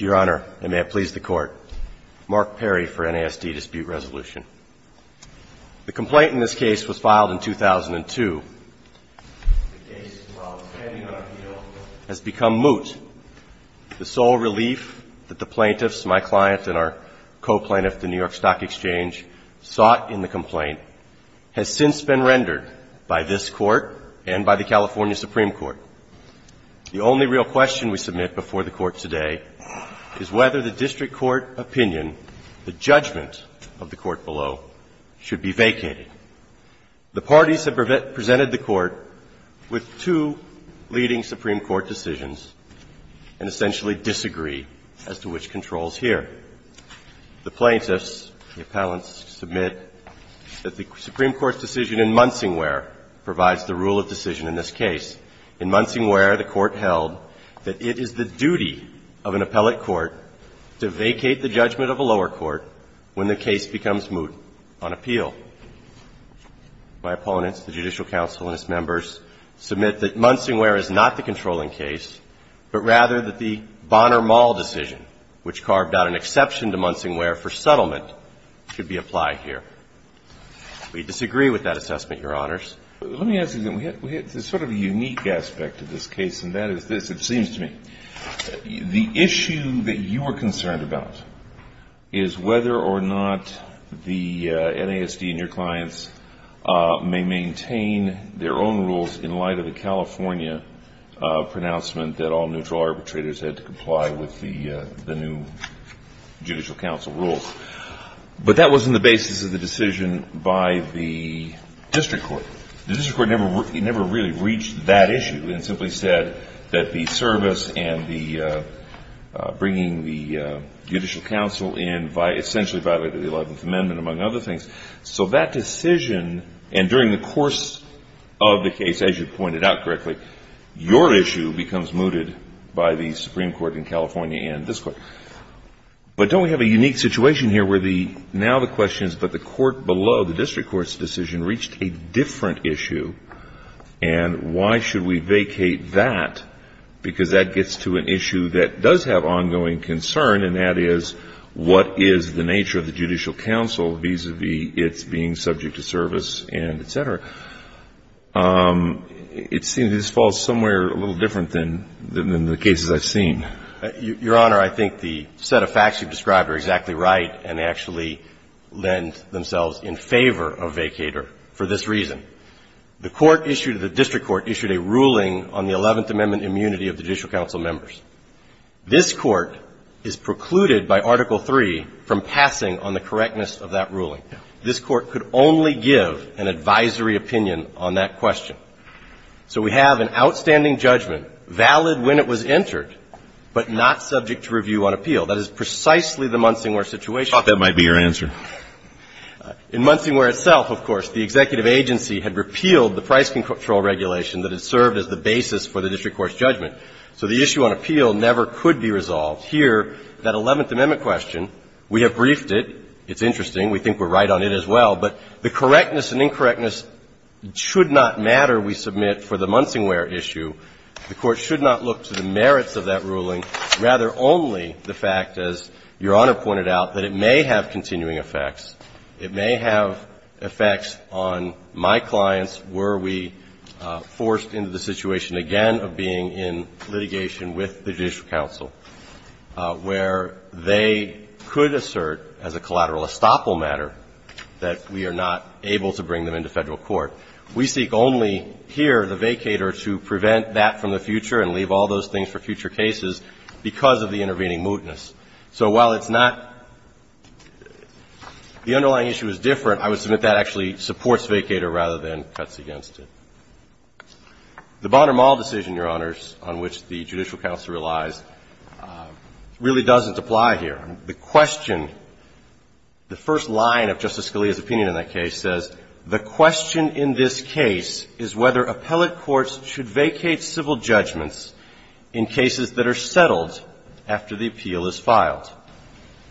Your Honor, and may it please the Court, Mark Perry for NASD Dispute Resolution. The complaint in this case was filed in 2002. The case, while standing on appeal, has become moot. The sole relief that the plaintiffs, my client and our co-plaintiff at the New York Stock Exchange, sought in the complaint has since been rendered by this Court and by the California Supreme Court. The only real question we submit before the Court today is whether the district court opinion, the judgment of the Court below, should be vacated. The parties have presented the Court with two leading Supreme Court decisions and essentially disagree as to which control is here. The plaintiffs, the appellants, submit that the Supreme Court's decision in Munsingware provides the rule of decision in this case. In Munsingware, the Court held that it is the duty of an appellate court to vacate the judgment of a lower court when the case becomes moot on appeal. My opponents, the Judicial Council and its members, submit that Munsingware is not the controlling case, but rather that the Bonner-Mall decision, which carved out an exception to Munsingware for settlement, should be applied here. We disagree with that assessment, Your Honors. Let me ask you something. We had sort of a unique aspect to this case, and that is this, it seems to me. The issue that you are concerned about is whether or not the NASD and your clients may maintain their own rules in light of the California pronouncement that all neutral arbitrators had to comply with the new Judicial Council rules. But that wasn't the basis of the decision by the district court. The district court never really reached that issue. It simply said that the service and the bringing the Judicial Council in essentially violated the Eleventh Amendment, among other things. So that decision, and during the course of the case, as you pointed out correctly, your issue becomes mooted by the Supreme Court in California and this Court. But don't we have a unique situation here where the district court's decision reached a different issue, and why should we vacate that? Because that gets to an issue that does have ongoing concern, and that is what is the nature of the Judicial Council vis-a-vis its being subject to service and et cetera. It seems this falls somewhere a little different than the cases I've seen. Your Honor, I think the set of facts you've described are exactly right and actually lend themselves in favor of vacater for this reason. The court issued, the district court issued a ruling on the Eleventh Amendment immunity of Judicial Council members. This Court is precluded by Article III from passing on the correctness of that ruling. This Court could only give an advisory opinion on that question. So we have an outstanding judgment, valid when it was entered, but not subject to review on appeal. That is precisely the Munsingware situation. I thought that might be your answer. In Munsingware itself, of course, the executive agency had repealed the price control regulation that had served as the basis for the district court's judgment. So the issue on appeal never could be resolved. Here, that Eleventh Amendment question, we have briefed it. It's interesting. We think we're right on it as well. But the correctness and incorrectness should not matter, we submit, for the Munsingware issue. The Court should not look to the merits of that ruling, rather only the fact, as Your Honor pointed out, that it may have continuing effects. It may have effects on my clients were we forced into the situation again of being in litigation with the Judicial Council, where they could assert as a collateral estoppel matter that we are not able to bring them into Federal court. We seek only here the vacator to prevent that from the future and leave all those things for future cases because of the intervening mootness. So while it's not the underlying issue is different, I would submit that actually supports vacator rather than cuts against it. The Bonner-Mall decision, Your Honors, on which the Judicial Council relies, really doesn't apply here. The question, the first line of Justice Scalia's opinion in that case says, the question in this case is whether appellate courts should vacate civil judgments in cases that are settled after the appeal is filed.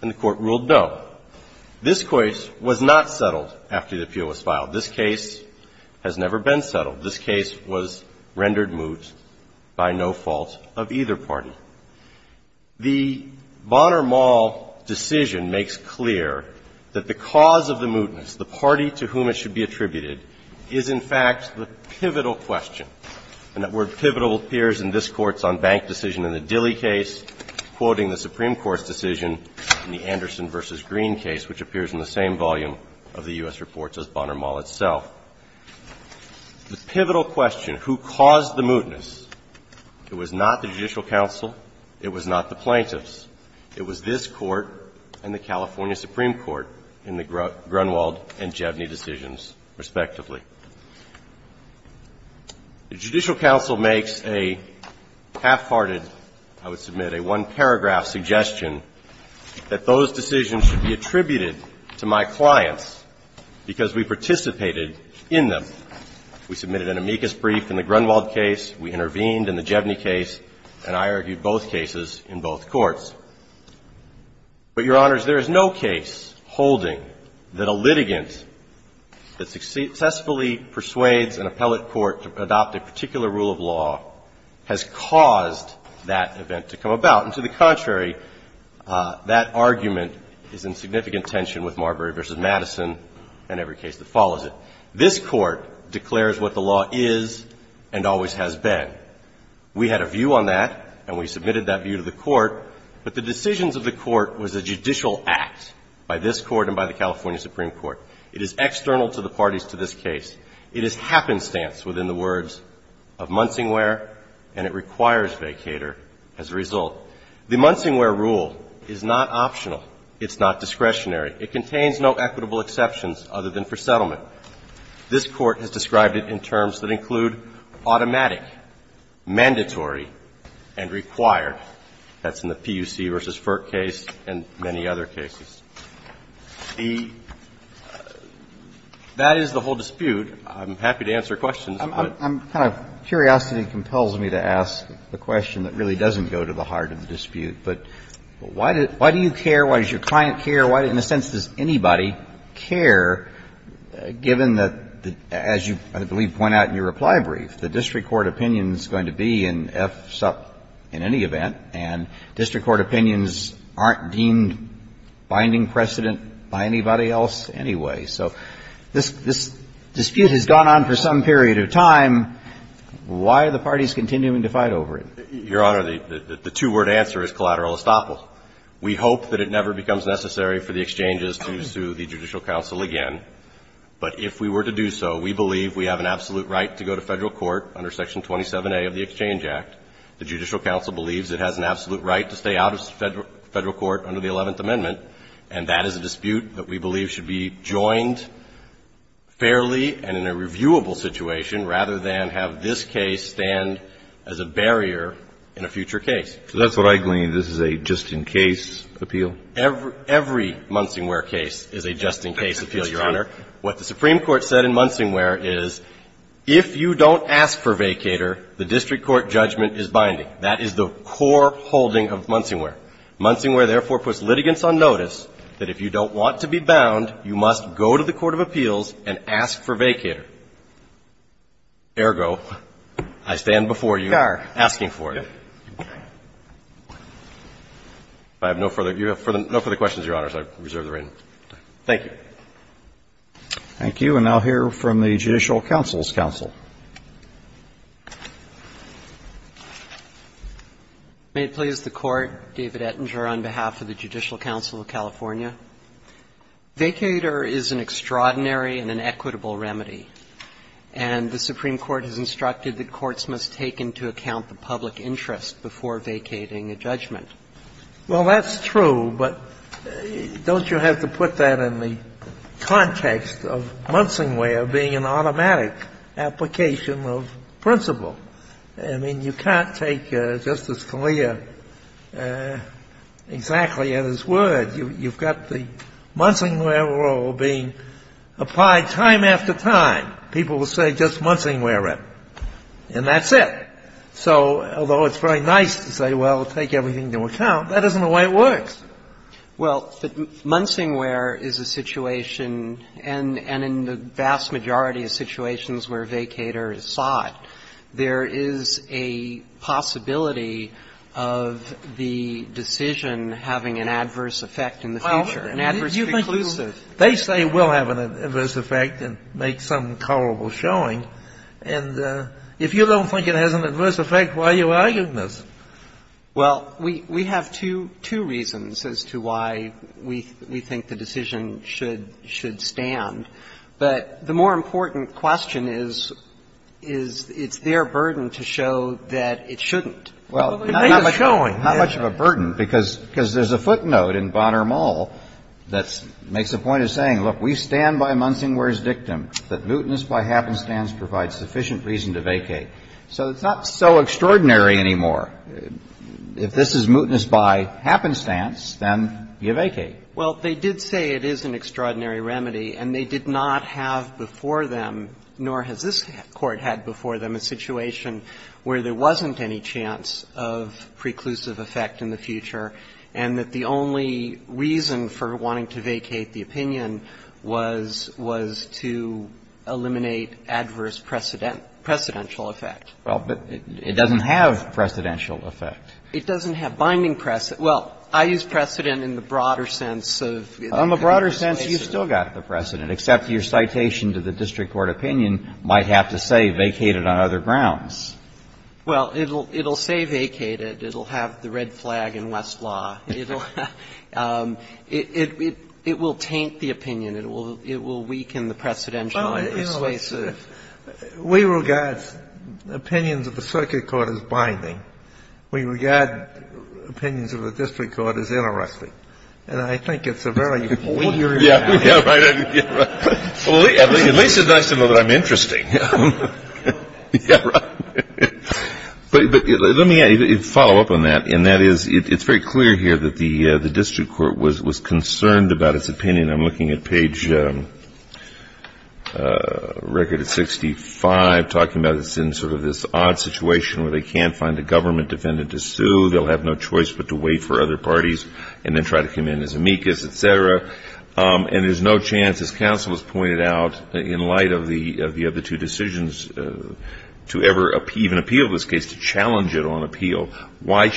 And the Court ruled no. This case was not settled after the appeal was filed. This case has never been settled. This case was rendered moot by no fault of either party. The Bonner-Mall decision makes clear that the cause of the mootness, the party to whom it should be attributed, is in fact the pivotal question. And that word pivotal appears in this Court's on-bank decision in the Dilley case, quoting the Supreme Court's decision in the Anderson v. Green case, which appears in the same volume of the U.S. Reports as Bonner-Mall itself. The pivotal question, who caused the mootness, it was not the Judicial Council, it was not the plaintiffs. It was this Court and the California Supreme Court in the Grunwald and Jevny decisions, respectively. The Judicial Council makes a half-hearted, I would submit, a one-paragraph suggestion that those decisions should be attributed to my clients because we participated in them. We submitted an amicus brief in the Grunwald case. We intervened in the Jevny case. And I argued both cases in both courts. But, Your Honors, there is no case holding that a litigant that successfully persuades an appellate court to adopt a particular rule of law has caused that event to come about. And to the contrary, that argument is in significant tension with Marbury v. Madison and every case that follows it. This Court declares what the law is and always has been. We had a view on that, and we submitted that view to the Court. But the decisions of the Court was a judicial act by this Court and by the California Supreme Court. It is external to the parties to this case. It is happenstance within the words of Munsingware, and it requires vacator as a result. The Munsingware rule is not optional. It's not discretionary. It contains no equitable exceptions other than for settlement. This Court has described it in terms that include automatic, mandatory, and required. That's in the PUC v. Firk case and many other cases. The – that is the whole dispute. I'm happy to answer questions. I'm kind of – curiosity compels me to ask the question that really doesn't go to the heart of the dispute. But why do you care? Why does your client care? Why, in a sense, does anybody care, given that, as you, I believe, point out in your reply brief, the district court opinion is going to be an F-SUP in any event, and district court opinions aren't deemed binding precedent by anybody else anyway. So this dispute has gone on for some period of time. Why are the parties continuing to fight over it? Your Honor, the two-word answer is collateral estoppel. We hope that it never becomes necessary for the exchanges to sue the judicial counsel again. But if we were to do so, we believe we have an absolute right to go to Federal court under Section 27A of the Exchange Act. The judicial counsel believes it has an absolute right to stay out of Federal court under the Eleventh Amendment. And that is a dispute that we believe should be joined fairly and in a reviewable situation rather than have this case stand as a barrier in a future case. So that's what I gleaned. This is a just-in-case appeal? Every Munsingware case is a just-in-case appeal, Your Honor. What the Supreme Court said in Munsingware is if you don't ask for vacator, the district court judgment is binding. That is the core holding of Munsingware. Munsingware, therefore, puts litigants on notice that if you don't want to be bound, you must go to the court of appeals and ask for vacator. Ergo, I stand before you asking for it. If I have no further questions, Your Honors, I reserve the right. Thank you. Thank you. And I'll hear from the Judicial Council's counsel. May it please the Court. David Ettinger on behalf of the Judicial Council of California. Vacator is an extraordinary and an equitable remedy, and the Supreme Court has instructed that courts must take into account the public interest before vacating a judgment. Well, that's true, but don't you have to put that in the context of Munsingware being an automatic application of principle? I mean, you can't take Justice Scalia exactly at his word. You've got the Munsingware rule being applied time after time. People will say just Munsingware it, and that's it. So although it's very nice to say, well, take everything into account, that isn't the way it works. Well, Munsingware is a situation, and in the vast majority of situations where vacator is sought, there is a possibility of the decision having an adverse effect in the future, an adverse preclusive. They say it will have an adverse effect and make some culpable showing. And if you don't think it has an adverse effect, why are you arguing this? Well, we have two reasons as to why we think the decision should stand. But the more important question is, is it's their burden to show that it shouldn't. Well, not much of a burden, because there's a footnote in Bonner Mall that makes the point of saying, look, we stand by Munsingware's dictum that mootness by happenstance provides sufficient reason to vacate. So it's not so extraordinary anymore. If this is mootness by happenstance, then you vacate. Well, they did say it is an extraordinary remedy, and they did not have before them, nor has this Court had before them, a situation where there wasn't any chance of preclusive effect in the future, and that the only reason for wanting to vacate the opinion was to eliminate adverse precedential effect. Well, but it doesn't have precedential effect. It doesn't have binding precedent. Well, I use precedent in the broader sense of the case. In the broader sense, you've still got the precedent, except your citation to the district court opinion might have to say, vacate it on other grounds. Well, it'll say vacate it. It'll have the red flag in Westlaw. It will taint the opinion. It will weaken the precedential and persuasive. Well, you know, we regard opinions of the circuit court as binding. We regard opinions of the district court as interesting. And I think it's a very weird thing. Yeah, right. At least it makes them interesting. But let me follow up on that, and that is it's very clear here that the district court was concerned about its opinion. I'm looking at page record 65, talking about it's in sort of this odd situation where they can't find a government defendant to sue. They'll have no choice but to wait for other parties and then try to come in as amicus, et cetera. And there's no chance, as counsel has pointed out, in light of the other two decisions, to ever even appeal this case, to challenge it on appeal. Why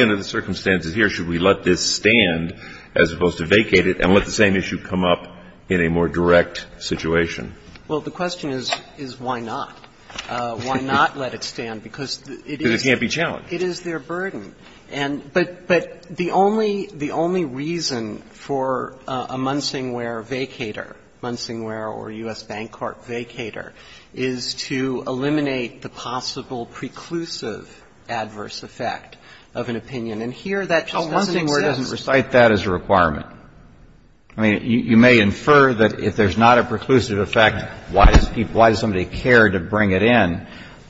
under the circumstances here should we let this stand as opposed to vacate it and let the same issue come up in a more direct situation? Well, the question is why not? Why not let it stand? Because it is their burden. But the only reason for a Munsingware vacater, Munsingware or U.S. Bancorp vacater, is to eliminate the possible preclusive adverse effect of an opinion. And here that just doesn't exist. Oh, Munsingware doesn't recite that as a requirement. I mean, you may infer that if there's not a preclusive effect, why does somebody care to bring it in?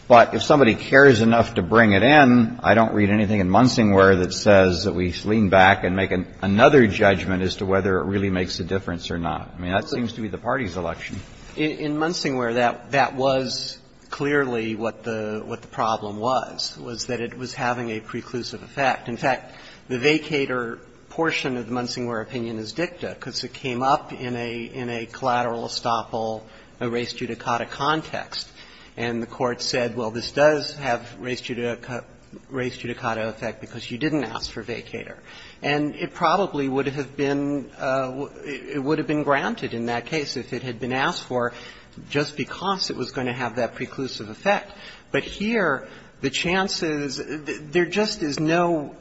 But if somebody cares enough to bring it in, I don't read anything in Munsingware that says that we lean back and make another judgment as to whether it really makes a difference or not. I mean, that seems to be the party's election. In Munsingware, that was clearly what the problem was, was that it was having a preclusive effect. In fact, the vacater portion of the Munsingware opinion is dicta because it came up in a collateral estoppel, a res judicata context. And the Court said, well, this does have res judicata effect because you didn't ask for vacater. And it probably would have been granted in that case if it had been asked for just because it was going to have that preclusive effect. But here the chances, there just is no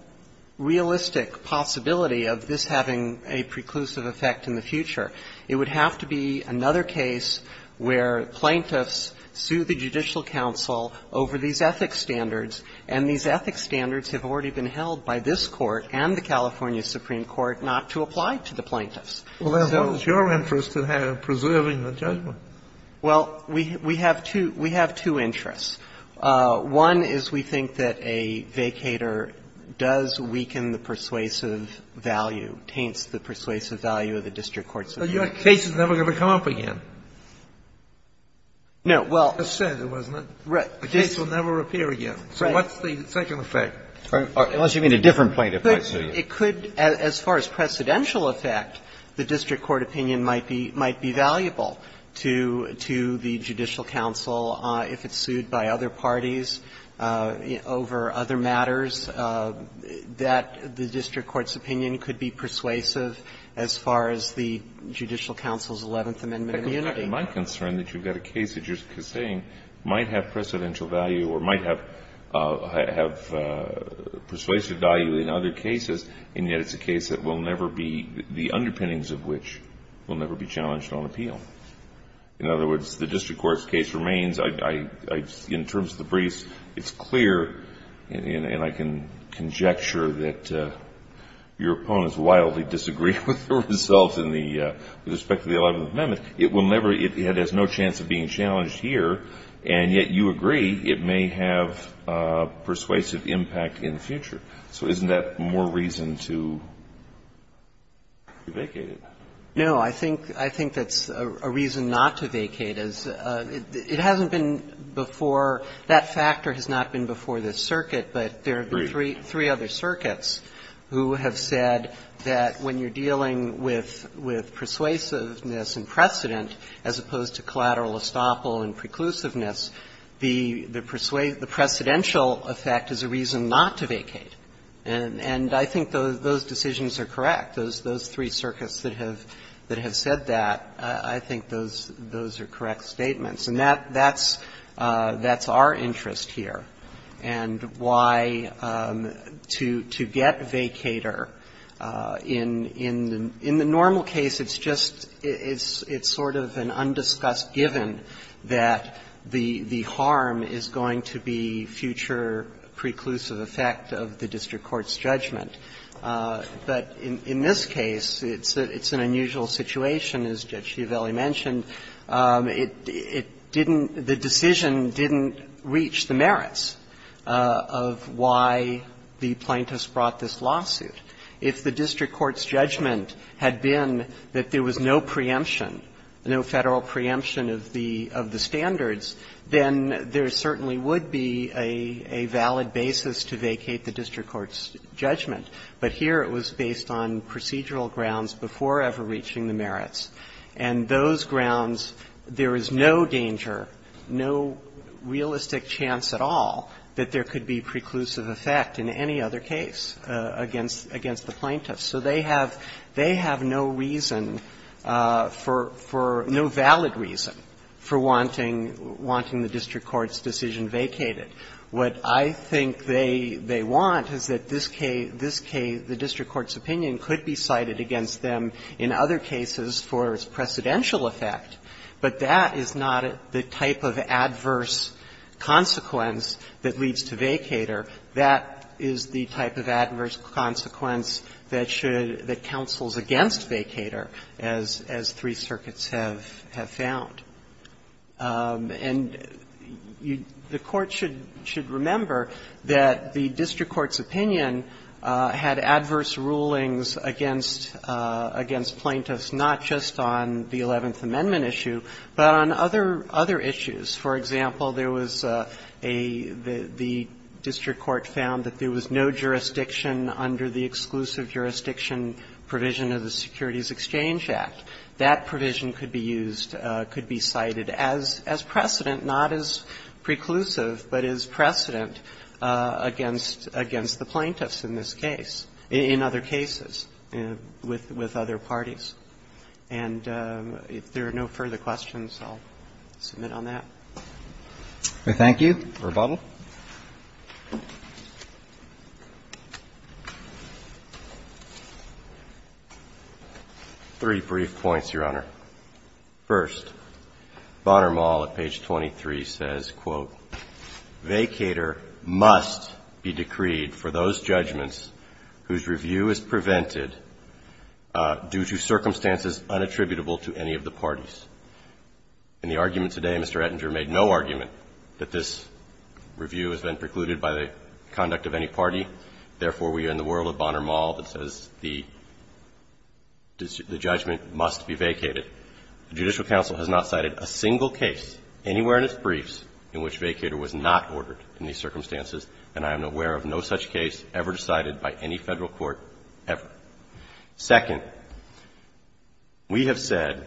realistic possibility of this having a preclusive effect in the future. It would have to be another case where plaintiffs sue the Judicial Council over these ethics standards, and these ethics standards have already been held by this Court and the California Supreme Court not to apply to the plaintiffs. So we have two interests. One is we think that a vacater does weaken the persuasive value, taints the persuasive value of the district court's opinion. Breyer, your case is never going to come up again. No, well. You just said it, wasn't it? Right. The case will never appear again. Right. So what's the second effect? Unless you mean a different plaintiff might sue you. It could, as far as precedential effect, the district court opinion might be valuable to the Judicial Council if it's sued by other parties over other matters, that the Judicial Council's Eleventh Amendment immunity. In my concern that you've got a case that you're saying might have precedential value or might have persuasive value in other cases, and yet it's a case that will never be, the underpinnings of which will never be challenged on appeal. In other words, the district court's case remains. In terms of the briefs, it's clear, and I can conjecture that your opponents wildly disagree with the results in the, with respect to the Eleventh Amendment. It will never, it has no chance of being challenged here, and yet you agree it may have persuasive impact in the future. So isn't that more reason to vacate it? No. I think that's a reason not to vacate. It hasn't been before, that factor has not been before this circuit, but there have been three other circuits who have said that when you're dealing with persuasiveness and precedent, as opposed to collateral estoppel and preclusiveness, the precedential effect is a reason not to vacate. And I think those decisions are correct. Those three circuits that have said that, I think those are correct statements. And that's our interest here, and why to get vacator in the normal case, it's just it's sort of an undiscussed given that the harm is going to be future preclusive effect of the district court's judgment. But in this case, it's an unusual situation, as Judge Giavelli mentioned. It didn't the decision didn't reach the merits of why the plaintiffs brought this lawsuit. If the district court's judgment had been that there was no preemption, no Federal preemption of the standards, then there certainly would be a valid basis to vacate the district court's judgment. But here it was based on procedural grounds before ever reaching the merits. And those grounds, there is no danger, no realistic chance at all that there could be preclusive effect in any other case against the plaintiffs. So they have no reason for no valid reason for wanting the district court's decision vacated. What I think they want is that this case, the district court's opinion could be cited against them in other cases for its precedential effect, but that is not the type of adverse consequence that leads to vacater. That is the type of adverse consequence that should the counsels against vacater, as three circuits have found. And the Court should remember that the district court's opinion had adverse rulings against plaintiffs, not just on the Eleventh Amendment issue, but on other issues. For example, there was a – the district court found that there was no jurisdiction under the exclusive jurisdiction provision of the Securities Exchange Act. That provision could be used, could be cited as precedent, not as preclusive, but as precedent against the plaintiffs in this case, in other cases, with other parties. And if there are no further questions, I'll submit on that. Roberts. Thank you. Verbal. Three brief points, Your Honor. First, Bonner Mall at page 23 says, quote, ''Vacater must be decreed for those judgments whose review is prevented due to circumstances unattributable to any of the parties.'' In the argument today, Mr. Ettinger made no argument that this review has been precluded by the conduct of any party. Therefore, we are in the world of Bonner Mall that says the judgment must be vacated. The Judicial Council has not cited a single case anywhere in its briefs in which vacater was not ordered in these circumstances, and I am aware of no such case ever decided by any Federal court ever. Second, we have said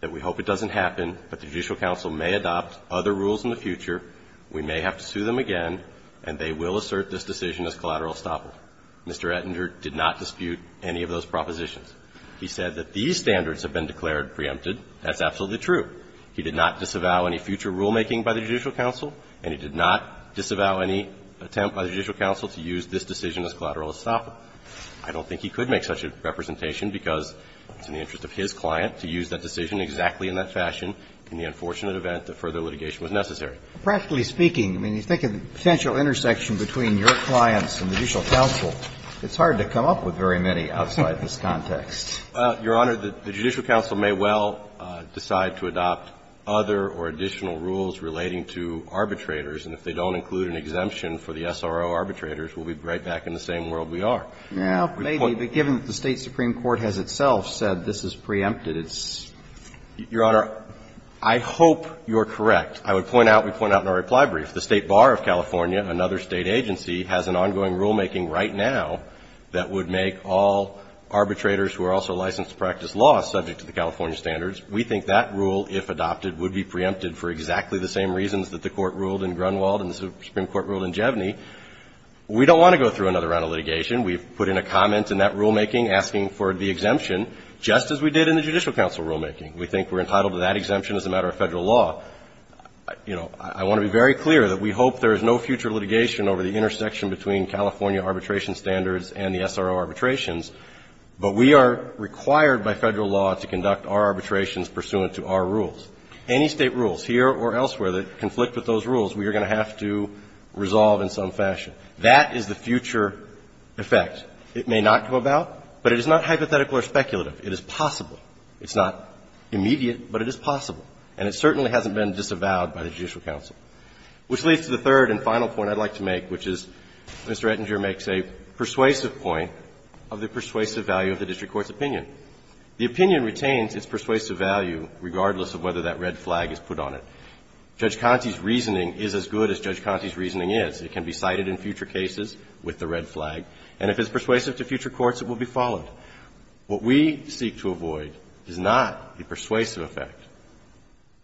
that we hope it doesn't happen, but the Judicial Council may adopt other rules in the future. We may have to sue them again, and they will assert this decision as collateral estoppel. Mr. Ettinger did not dispute any of those propositions. He said that these standards have been declared preempted. That's absolutely true. He did not disavow any future rulemaking by the Judicial Council, and he did not disavow any attempt by the Judicial Council to use this decision as collateral estoppel. I don't think he could make such a representation because it's in the interest of his client to use that decision exactly in that fashion in the unfortunate event that further litigation was necessary. Practically speaking, I mean, you think of the potential intersection between your clients and the Judicial Council, it's hard to come up with very many outside this context. Your Honor, the Judicial Council may well decide to adopt other or additional rules relating to arbitrators, and if they don't include an exemption for the SRO arbitrators, we'll be right back in the same world we are. Well, maybe, but given that the State supreme court has itself said this is preempted, it's – Your Honor, I hope you're correct. I would point out, we point out in our reply brief, the State Bar of California, another State agency, has an ongoing rulemaking right now that would make all arbitrators who are also licensed to practice law subject to the California standards. We think that rule, if adopted, would be preempted for exactly the same reasons that the Court ruled in Grunwald and the Supreme Court ruled in Jeveny. We don't want to go through another round of litigation. We've put in a comment in that rulemaking asking for the exemption, just as we did in the Judicial Council rulemaking. We think we're entitled to that exemption as a matter of Federal law. You know, I want to be very clear that we hope there is no future litigation over the intersection between California arbitration standards and the SRO arbitrations, but we are required by Federal law to conduct our arbitrations pursuant to our rules. Any State rules, here or elsewhere, that conflict with those rules, we are going to have to resolve in some fashion. That is the future effect. It may not go about, but it is not hypothetical or speculative. It is possible. It's not immediate, but it is possible. And it certainly hasn't been disavowed by the Judicial Council. Which leads to the third and final point I'd like to make, which is Mr. Ettinger makes a persuasive point of the persuasive value of the district court's opinion. The opinion retains its persuasive value regardless of whether that red flag is put on it. Judge Conte's reasoning is as good as Judge Conte's reasoning is. It can be cited in future cases with the red flag. And if it's persuasive to future courts, it will be followed. What we seek to avoid is not the persuasive effect.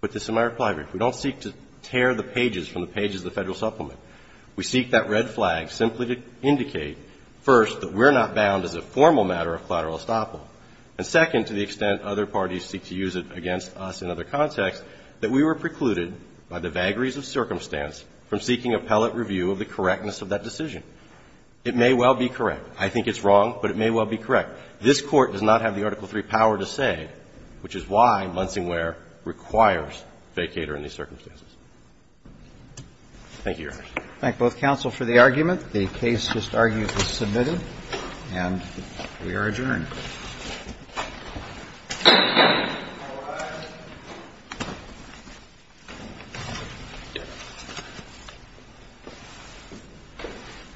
Put this in my reply brief. We don't seek to tear the pages from the pages of the Federal Supplement. We seek that red flag simply to indicate, first, that we're not bound as a formal matter of collateral estoppel, and second, to the extent other parties seek to use it against us in other contexts, that we were precluded by the vagaries of circumstance from seeking appellate review of the correctness of that decision. It may well be correct. I think it's wrong, but it may well be correct. This Court does not have the Article III power to say, which is why Munsingware requires vacater in these circumstances. Thank you, Your Honor. Roberts. Thank both counsel for the argument. The case just argued is submitted, and we are adjourned.